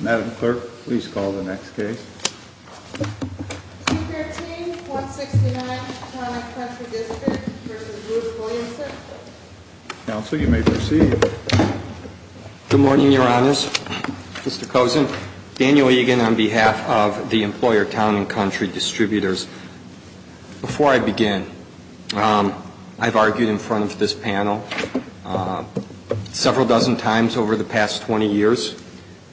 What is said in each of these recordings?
Madam Clerk, please call the next case. C-13-169 Town & Country District v. Ruth Williamson Counsel, you may proceed. Good morning, Your Honors. Mr. Kozin. Daniel Egan on behalf of the employer Town & Country Distributors. Before I begin, I've argued in front of this panel several dozen times over the past 20 years.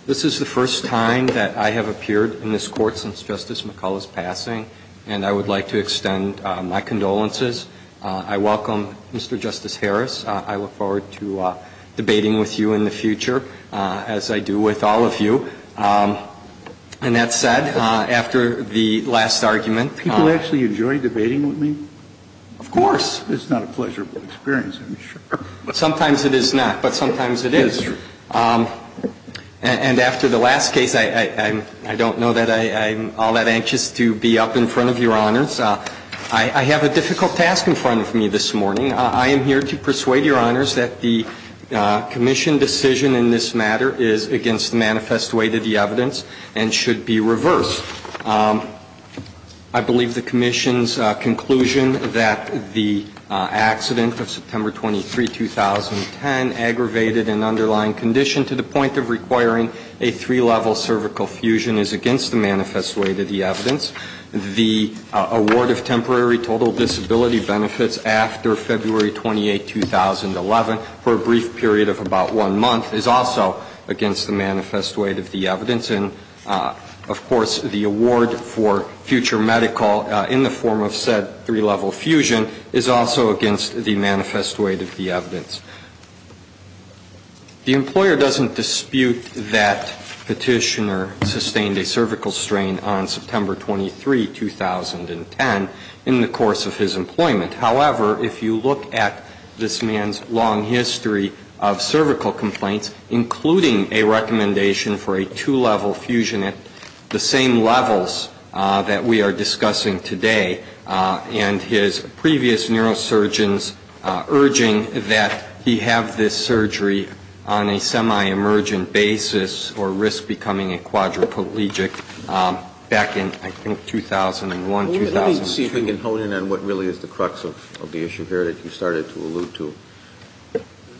This is the first time that I have appeared in this Court since Justice McCulloh's passing, and I would like to extend my condolences. I welcome Mr. Justice Harris. I look forward to debating with you in the future, as I do with all of you. And that said, after the last argument — Do people actually enjoy debating with me? Of course. It's not a pleasurable experience, I'm sure. Sometimes it is not, but sometimes it is. And after the last case, I don't know that I'm all that anxious to be up in front of Your Honors. I have a difficult task in front of me this morning. I am here to persuade Your Honors that the Commission decision in this matter is against the manifest weight of the evidence and should be reversed. I believe the Commission's conclusion that the accident of September 23, 2010, aggravated an underlying condition to the point of requiring a three-level cervical fusion, is against the manifest weight of the evidence. The award of temporary total disability benefits after February 28, 2011, for a brief period of about one month, is also against the manifest weight of the evidence. And, of course, the award for future medical in the form of said three-level fusion is also against the manifest weight of the evidence. The employer doesn't dispute that Petitioner sustained a cervical strain on September 23, 2010, in the course of his employment. However, if you look at this man's long history of cervical complaints, including a recommendation for a two-level fusion at the same levels that we are discussing today, and his previous neurosurgeons urging that he have this surgery on a semi-emergent basis or risk becoming a quadriplegic back in, I think, 2001, 2002. Let me see if we can hone in on what really is the crux of the issue here that you started to allude to.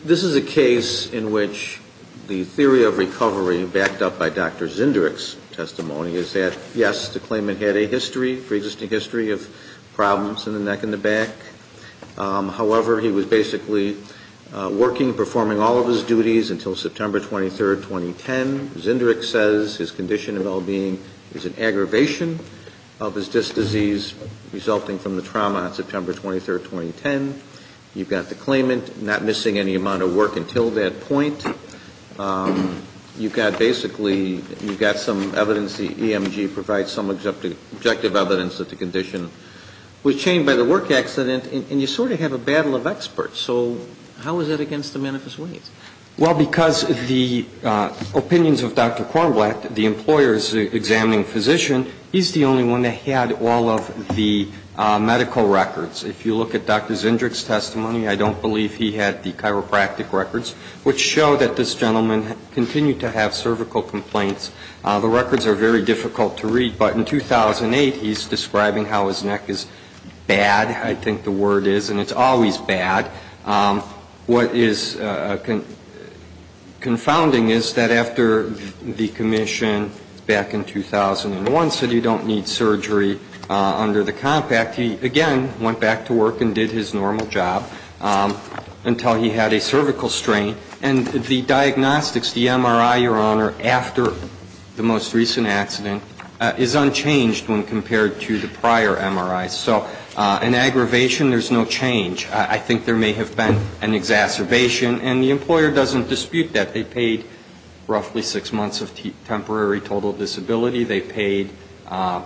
This is a case in which the theory of recovery, backed up by Dr. Zinderich's testimony, is that, yes, the claimant had a history, pre-existing history, of problems in the neck and the back. However, he was basically working, performing all of his duties until September 23, 2010. Zinderich says his condition of well-being is an aggravation of his disc disease, resulting from the trauma on September 23, 2010. You've got the claimant not missing any amount of work until that point. You've got, basically, you've got some evidence, the EMG provides some objective evidence, that the condition was chained by the work accident. And you sort of have a battle of experts. So how is that against the manifest ways? Well, because the opinions of Dr. Kornblatt, the employer's examining physician, he's the only one that had all of the medical records. If you look at Dr. Zinderich's testimony, I don't believe he had the chiropractic records, which show that this gentleman continued to have cervical complaints. The records are very difficult to read. But in 2008, he's describing how his neck is bad, I think the word is, and it's always bad. What is confounding is that after the commission, back in 2001, said you don't need surgery under the compact, he, again, went back to work and did his normal job until he had a cervical strain. And the diagnostics, the MRI, Your Honor, after the most recent accident is unchanged when compared to the prior MRIs. So an aggravation, there's no change. I think there may have been an exacerbation. And the employer doesn't dispute that. They paid roughly six months of temporary total disability. They paid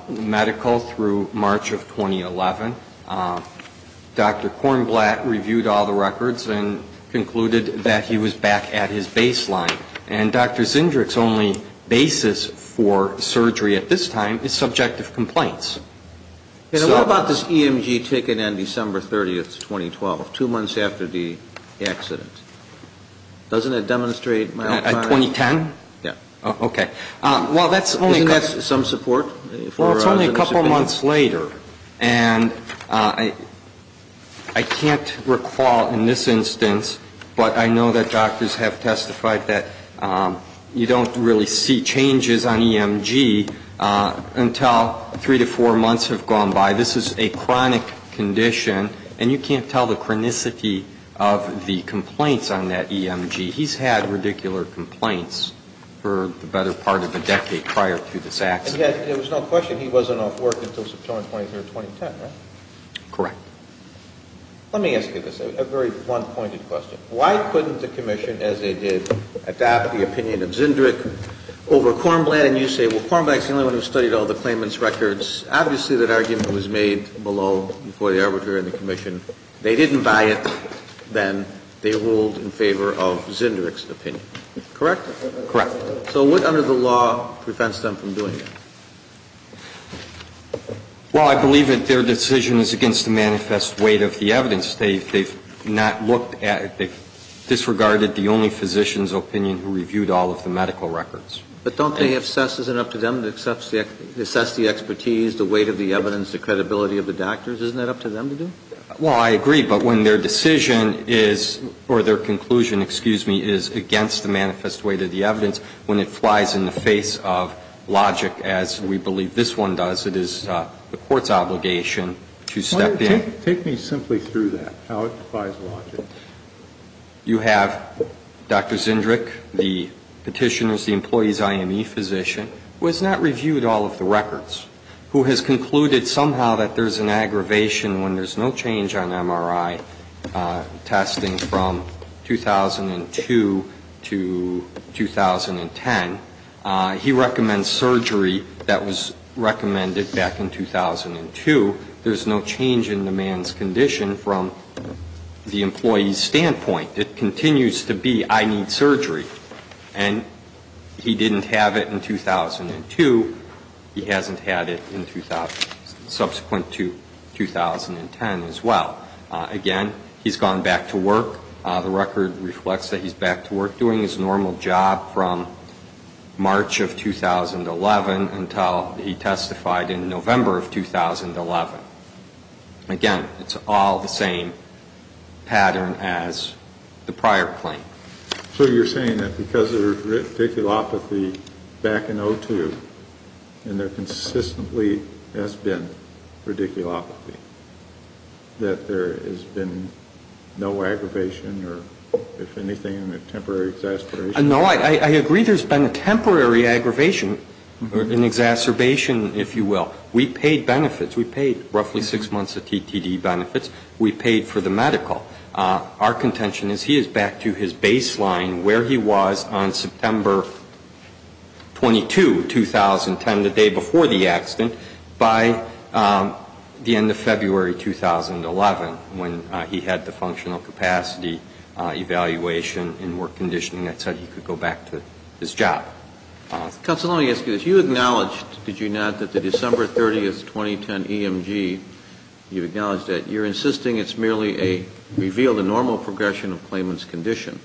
medical through March of 2011. Dr. Kornblatt reviewed all the records and concluded that he was back at his baseline. And Dr. Zinderich's only basis for surgery at this time is subjective complaints. So what about this EMG ticket on December 30th, 2012, two months after the accident? Doesn't it demonstrate mild chronic? At 2010? Yeah. Okay. Isn't that some support? Well, it's only a couple months later. And I can't recall in this instance, but I know that doctors have testified that you don't really see changes on EMG until three to four months have gone by. This is a chronic condition, and you can't tell the chronicity of the complaints on that EMG. He's had radicular complaints for the better part of a decade prior to this accident. And yet there was no question he wasn't off work until September 23rd, 2010, right? Correct. Let me ask you this, a very one-pointed question. Why couldn't the Commission, as they did, adopt the opinion of Zinderich over Kornblatt and you say, well, Kornblatt is the only one who studied all the claimant's records. Obviously, that argument was made below before the arbitrator and the Commission. They didn't buy it then. They ruled in favor of Zinderich's opinion. Correct? Correct. So what under the law prevents them from doing that? Well, I believe that their decision is against the manifest weight of the evidence. They've not looked at it. They've disregarded the only physician's opinion who reviewed all of the medical records. But don't they assess, is it up to them to assess the expertise, the weight of the evidence, the credibility of the doctors? Isn't that up to them to do? Well, I agree. But when their decision is, or their conclusion, excuse me, is against the manifest weight of the evidence, when it flies in the face of logic, as we believe this one does, it is the Court's obligation to step in. Take me simply through that, how it defies logic. You have Dr. Zinderich, the Petitioner's, the employee's IME physician, who has not reviewed all of the records, who has concluded somehow that there's an aggravation when there's no change on MRI testing from 2002 to 2010. He recommends surgery that was recommended back in 2002. There's no change in the man's condition from the employee's standpoint. It continues to be, I need surgery. And he didn't have it in 2002. He hasn't had it in subsequent to 2010 as well. Again, he's gone back to work. The record reflects that he's back to work doing his normal job from March of 2011 until he testified in November of 2011. Again, it's all the same pattern as the prior claim. So you're saying that because there's radiculopathy back in 2002, and there consistently has been radiculopathy, that there has been no aggravation or, if anything, a temporary exacerbation? No, I agree there's been a temporary aggravation, an exacerbation, if you will. We paid benefits. We paid roughly six months of TTD benefits. We paid for the medical. Our contention is he is back to his baseline where he was on September 22, 2010, the day before the accident, by the end of February 2011, when he had the functional capacity evaluation and work conditioning. That's how he could go back to his job. Counsel, let me ask you this. You acknowledged, did you not, that the December 30, 2010 EMG, you acknowledged that. You're insisting it's merely a revealed and normal progression of Clayman's condition,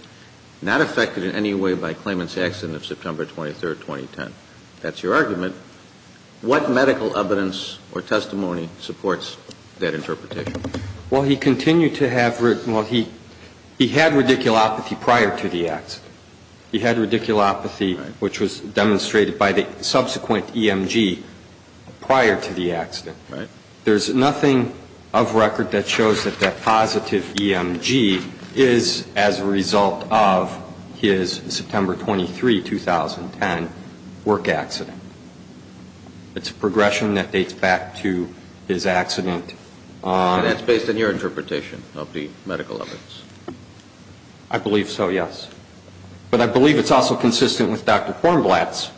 not affected in any way by Clayman's accident of September 23, 2010. That's your argument. What medical evidence or testimony supports that interpretation? Well, he continued to have, well, he had radiculopathy prior to the accident. He had radiculopathy which was demonstrated by the subsequent EMG prior to the accident. Right. There's nothing of record that shows that that positive EMG is as a result of his September 23, 2010 work accident. It's a progression that dates back to his accident. That's based on your interpretation of the medical evidence. I believe so, yes. But I believe it's also consistent with Dr. Kornblatt's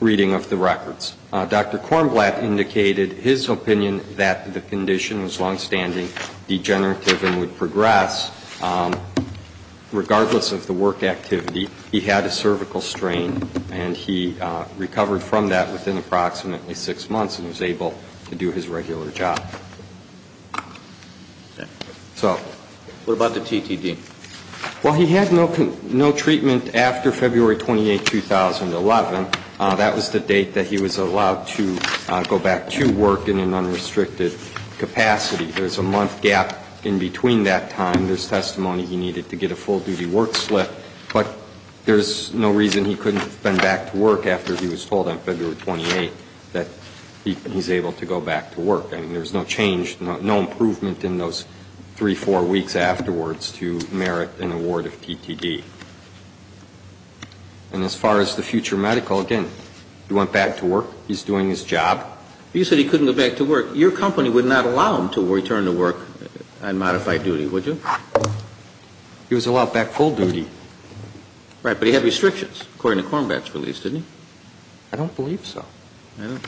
reading of the records. Dr. Kornblatt indicated his opinion that the condition was longstanding, degenerative and would progress. Regardless of the work activity, he had a cervical strain, and he recovered from that within approximately six months and was able to do his regular job. What about the TTD? Well, he had no treatment after February 28, 2011. That was the date that he was allowed to go back to work in an unrestricted capacity. There's a month gap in between that time. There's testimony he needed to get a full-duty work slip, but there's no reason he couldn't have been back to work after he was told on February 28 that he's able to go back to work. I mean, there's no change, no improvement in those three, four weeks afterwards to merit an award of TTD. And as far as the future medical, again, he went back to work. He's doing his job. You said he couldn't go back to work. Your company would not allow him to return to work on modified duty, would you? He was allowed back full duty. Right, but he had restrictions, according to Kornblatt's release, didn't he? I don't believe so. I don't.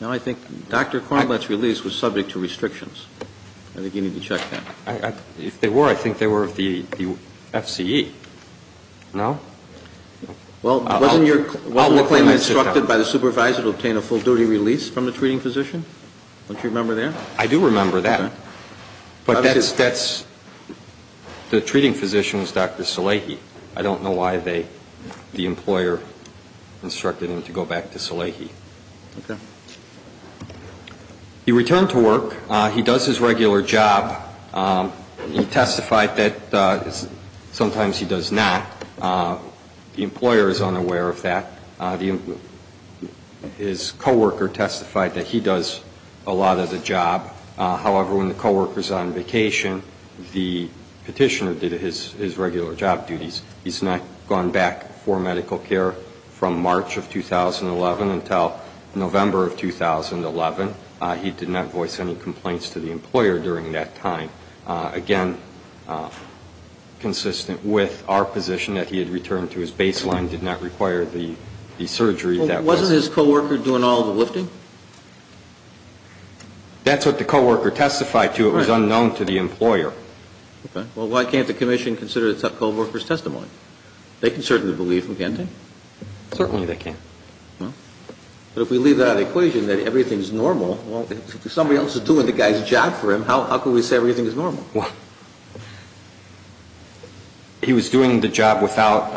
No, I think Dr. Kornblatt's release was subject to restrictions. I think you need to check that. If they were, I think they were of the FCE. No? Well, wasn't your claim instructed by the supervisor to obtain a full-duty release from the treating physician? Don't you remember that? I do remember that, but the treating physician was Dr. Salehi. I don't know why the employer instructed him to go back to Salehi. Okay. He returned to work. He does his regular job. He testified that sometimes he does not. The employer is unaware of that. His co-worker testified that he does a lot of the job. However, when the co-worker is on vacation, the petitioner did his regular job duties. He's not gone back for medical care from March of 2011 until November of 2011. He did not voice any complaints to the employer during that time. Again, consistent with our position that he had returned to his baseline, did not require the surgery. Wasn't his co-worker doing all the lifting? That's what the co-worker testified to. It was unknown to the employer. Okay. Well, why can't the commission consider the co-worker's testimony? They can certainly believe him, can't they? Certainly they can. But if we leave that equation that everything is normal, if somebody else is doing the guy's job for him, how can we say everything is normal? Well, he was doing the job without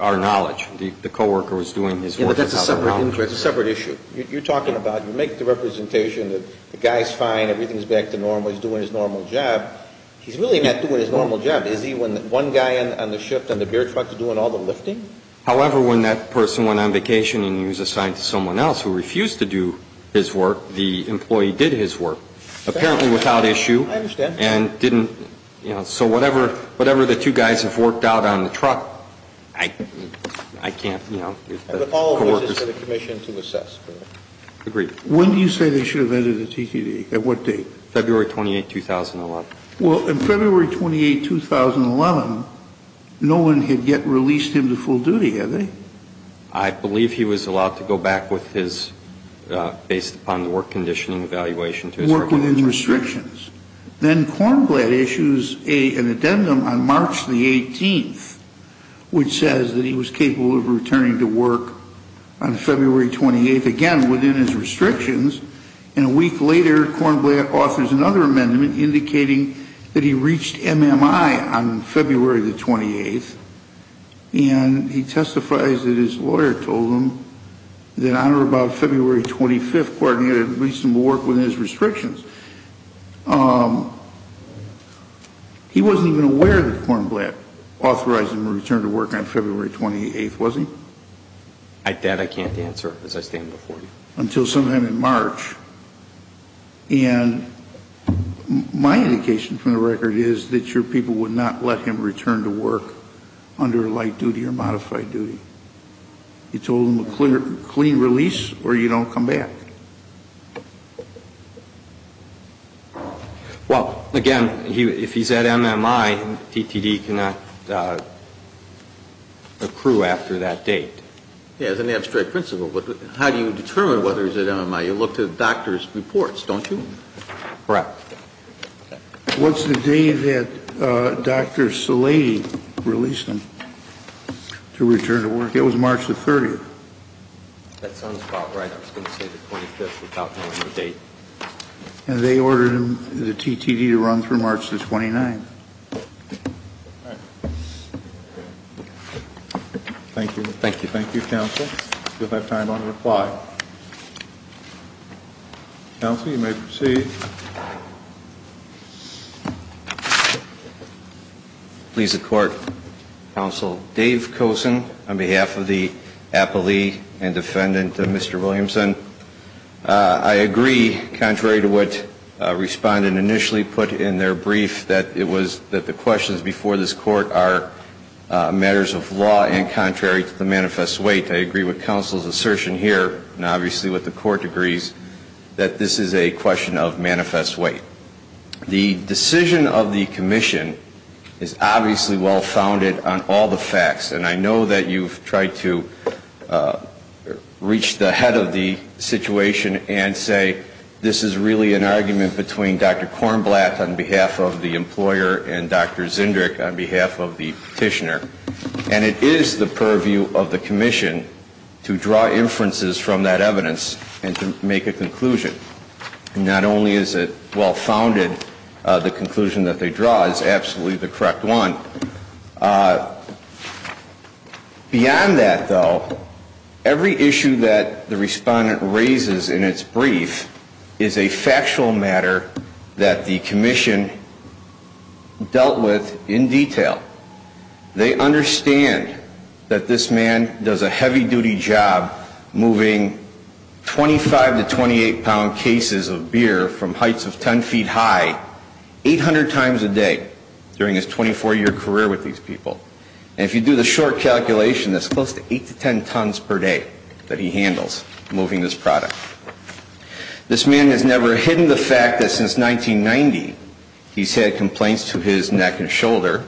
our knowledge. The co-worker was doing his work without our knowledge. Yeah, but that's a separate issue. You're talking about you make the representation that the guy is fine, everything is back to normal, he's doing his normal job. He's really not doing his normal job. Is he when one guy on the shift on the beer truck is doing all the lifting? However, when that person went on vacation and he was assigned to someone else who refused to do his work, the employee did his work. Apparently without issue. I understand. And didn't, you know, so whatever the two guys have worked out on the truck, I can't, you know, the co-workers. I would call on the commission to assess. Agreed. When do you say they should have entered the TTD? At what date? February 28, 2011. Well, in February 28, 2011, no one had yet released him to full duty, had they? I believe he was allowed to go back with his, based upon the work conditioning evaluation. Work within restrictions. Then Kornblatt issues an addendum on March the 18th, which says that he was capable of returning to work on February 28th. Again, within his restrictions. And a week later, Kornblatt offers another amendment indicating that he reached MMI on February the 28th. And he testifies that his lawyer told him that on or about February 25th, Kornblatt had released him to work within his restrictions. He wasn't even aware that Kornblatt authorized him to return to work on February 28th, was he? That I can't answer as I stand before you. Until sometime in March. And my indication from the record is that your people would not let him return to work under light duty or modified duty. You told him a clean release, or you don't come back? Well, again, if he's at MMI, DTD cannot accrue after that date. As an abstract principle, how do you determine whether he's at MMI? You look to the doctor's reports, don't you? Correct. What's the day that Dr. Salady released him to return to work? It was March the 30th. That sounds about right. I was going to say the 25th without knowing the date. And they ordered the DTD to run through March the 29th. All right. Thank you. Thank you, counsel. You'll have time to reply. Counsel, you may proceed. Please, the court. Counsel Dave Kosen, on behalf of the appellee and defendant, Mr. Williamson, I agree, contrary to what respondent initially put in their brief, that it was that the questions before this court are matters of law and contrary to the manifest weight. I agree with counsel's assertion here, and obviously what the court agrees, that this is a question of manifest weight. The decision of the commission is obviously well-founded on all the facts, and I know that you've tried to reach the head of the situation and say this is really an argument between Dr. Kornblatt on behalf of the employer and Dr. Zindrick on behalf of the petitioner. And it is the purview of the commission to draw inferences from that evidence and to make a conclusion. Not only is it well-founded, the conclusion that they draw is absolutely the correct one. Beyond that, though, every issue that the respondent raises in its brief is a factual matter that the commission dealt with in detail. They understand that this man does a heavy-duty job moving 25 to 28-pound cases of beer from heights of 10 feet high 800 times a day during his 24-year career with these people. And if you do the short calculation, that's close to 8 to 10 tons per day that he handles moving this product. This man has never hidden the fact that since 1990 he's had complaints to his neck and shoulder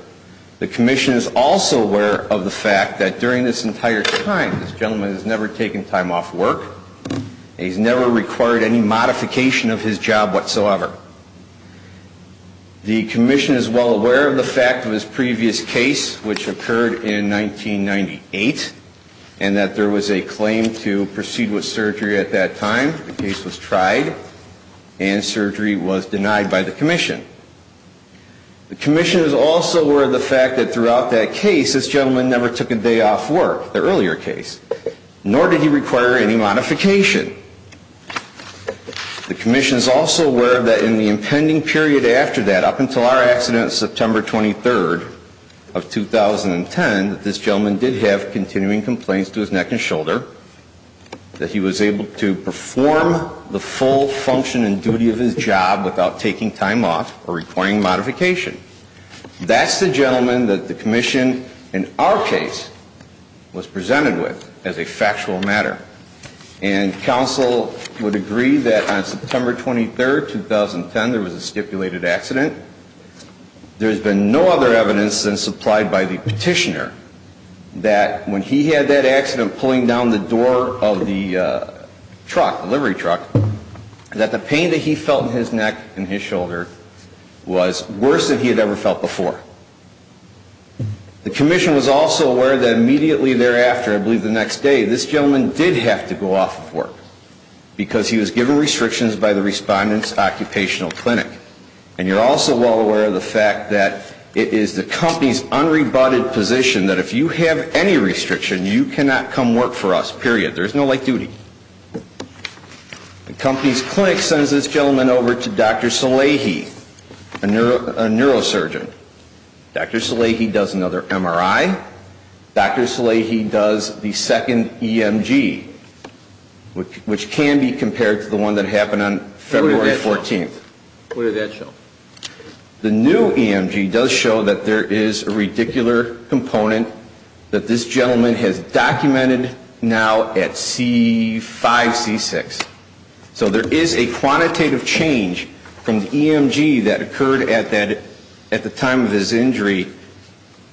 the commission is also aware of the fact that during this entire time this gentleman has never taken time off work and he's never required any modification of his job whatsoever. The commission is well aware of the fact of his previous case which occurred in 1998 and that there was a claim to proceed with surgery at that time. The case was tried and surgery was denied by the commission. The commission is also aware of the fact that throughout that case this gentleman never took a day off work, the earlier case, nor did he require any modification. The commission is also aware that in the impending period after that, up until our accident September 23rd of 2010, that this gentleman did have continuing complaints to his neck and shoulder, that he was able to perform the full function and duty of his job without taking time off or requiring modification. That's the gentleman that the commission, in our case, was presented with as a factual matter. And counsel would agree that on September 23rd, 2010, there was a stipulated accident. There's been no other evidence than supplied by the petitioner that when he had that accident pulling down the door of the truck, the delivery truck, that the pain that he felt in his neck and his shoulder was worse than he had ever felt before. The commission was also aware that immediately thereafter, I believe the next day, this gentleman did have to go off of work because he was given restrictions by the Respondent's Occupational Clinic. And you're also well aware of the fact that it is the company's unrebutted position that if you have any restriction, you cannot come work for us, period. There's no late duty. The company's clinic sends this gentleman over to Dr. Salehi, a neurosurgeon. Dr. Salehi does another MRI. Dr. Salehi does the second EMG, which can be compared to the one that happened on February 14th. What does that show? The new EMG does show that there is a radicular component that this gentleman has documented now at C5, C6. So there is a quantitative change from the EMG that occurred at the time of his injury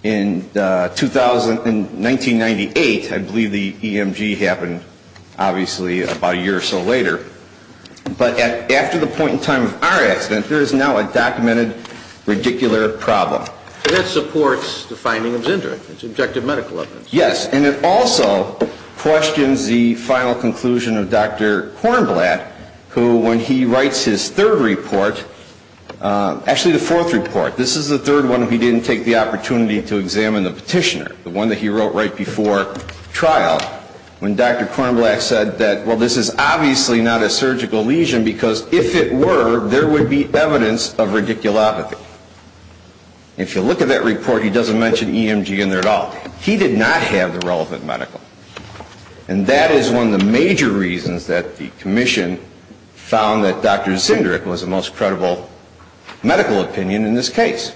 in 1998. I believe the EMG happened, obviously, about a year or so later. But after the point in time of our accident, there is now a documented radicular problem. That supports the finding of his injury. It's objective medical evidence. Yes. And it also questions the final conclusion of Dr. Kornblatt, who when he writes his third report, actually the fourth report, this is the third one he didn't take the opportunity to examine the petitioner, the one that he wrote right before trial, when Dr. Kornblatt said that, well, this is obviously not a surgical lesion because if it were, there would be evidence of radiculopathy. If you look at that report, he doesn't mention EMG in there at all. He did not have the relevant medical. And that is one of the major reasons that the commission found that Dr. Zinderich was the most credible medical opinion in this case.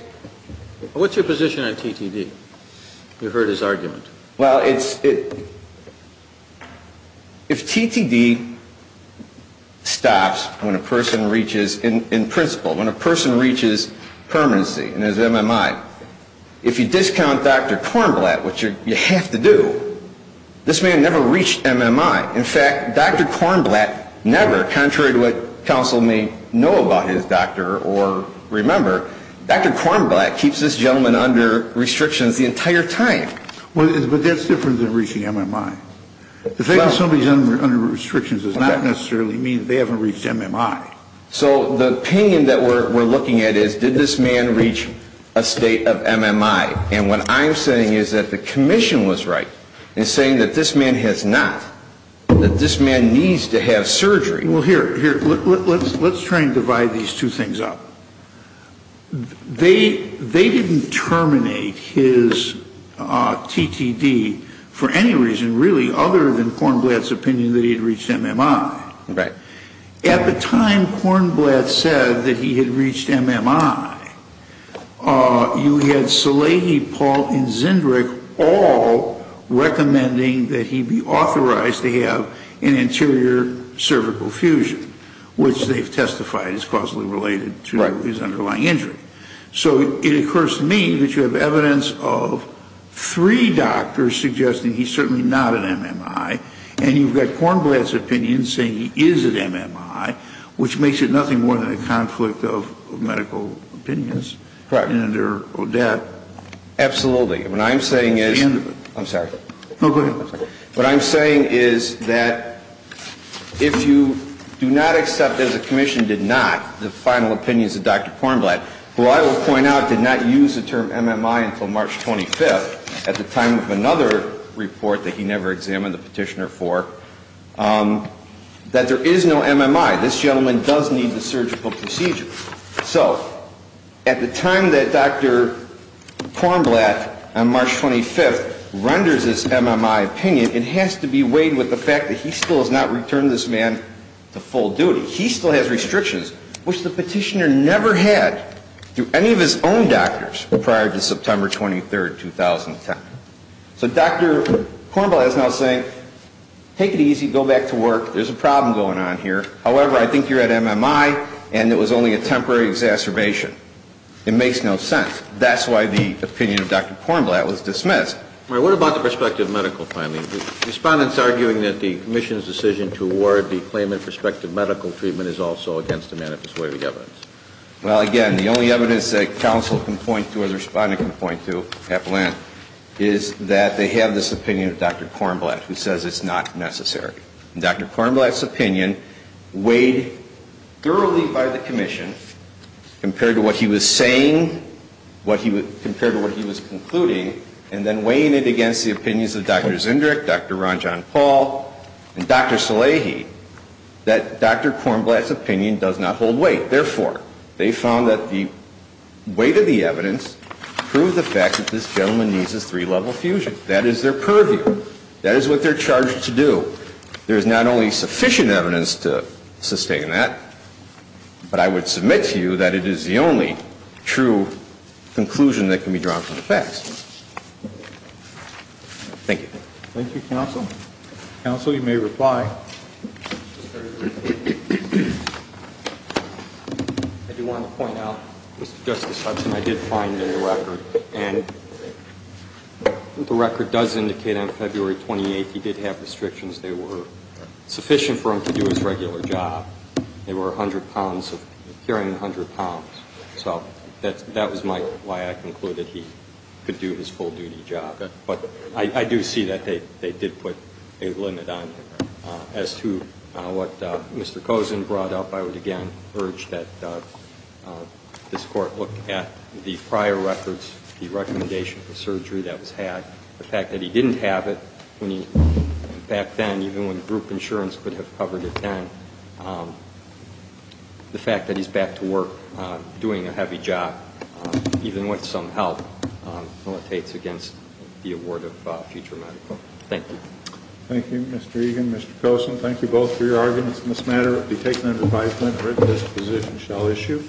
What's your position on TTD? You've heard his argument. Well, if TTD stops when a person reaches, in principle, when a person reaches permanency and has MMI, if you discount Dr. Kornblatt, which you have to do, this man never reached MMI. In fact, Dr. Kornblatt never, contrary to what counsel may know about his doctor or remember, Dr. Kornblatt keeps this gentleman under restrictions the entire time. But that's different than reaching MMI. The fact that somebody is under restrictions does not necessarily mean they haven't reached MMI. So the opinion that we're looking at is, did this man reach a state of MMI? And what I'm saying is that the commission was right in saying that this man has not, that this man needs to have surgery. Well, here, let's try and divide these two things up. They didn't terminate his TTD for any reason, really, other than Kornblatt's opinion that he had reached MMI. Right. At the time Kornblatt said that he had reached MMI, you had Salehi, Paul, and Zindrick all recommending that he be authorized to have an anterior cervical fusion, which they've testified is causally related to his underlying injury. So it occurs to me that you have evidence of three doctors suggesting he's certainly not at MMI, and you've got Kornblatt's opinion saying he is at MMI, which makes it nothing more than a conflict of medical opinions. Correct. And under O'Dette. Absolutely. What I'm saying is – I'm sorry. No, go ahead. What I'm saying is that if you do not accept, as the commission did not, the final opinions of Dr. Kornblatt, who I will point out did not use the term MMI until March 25th at the time of another report that he never examined the petitioner for, that there is no MMI. This gentleman does need the surgical procedure. So at the time that Dr. Kornblatt on March 25th renders his MMI opinion, it has to be weighed with the fact that he still has not returned this man to full duty. He still has restrictions, which the petitioner never had through any of his own doctors prior to September 23rd, 2010. So Dr. Kornblatt is now saying, take it easy, go back to work, there's a problem going on here. However, I think you're at MMI and it was only a temporary exacerbation. It makes no sense. That's why the opinion of Dr. Kornblatt was dismissed. What about the prospective medical findings? Respondents arguing that the commission's decision to award the claimant prospective medical treatment is also against the manifest way of the evidence. Well, again, the only evidence that counsel can point to or the respondent can point to, is that they have this opinion of Dr. Kornblatt who says it's not necessary. And Dr. Kornblatt's opinion weighed thoroughly by the commission compared to what he was saying, compared to what he was concluding, and then weighing it against the opinions of Dr. Zindrick, Dr. Ron John Paul, and Dr. Salehi, that Dr. Kornblatt's opinion does not hold weight. Therefore, they found that the weight of the evidence proved the fact that this gentleman needs his three-level fusion. That is their purview. That is what they're charged to do. There is not only sufficient evidence to sustain that, but I would submit to you that it is the only true conclusion that can be drawn from the facts. Thank you. Thank you, counsel. Counsel, you may reply. I do want to point out, Mr. Justice Hudson, I did find in the record, and the record does indicate on February 28th he did have restrictions. They were sufficient for him to do his regular job. They were 100 pounds, appearing 100 pounds. So that was my, why I concluded he could do his full-duty job. But I do see that they did put a limit on him. As to what Mr. Kozin brought up, I would again urge that this Court look at the prior records, the recommendation for surgery that was had, the fact that he didn't have it when he, back then, even when group insurance could have covered it then, the fact that he's back to work doing a heavy job, even with some help, militates against the award of future medical. Thank you. Thank you, Mr. Egan. Mr. Kozin, thank you both for your arguments in this matter. It would be taken under advisement that this position shall issue.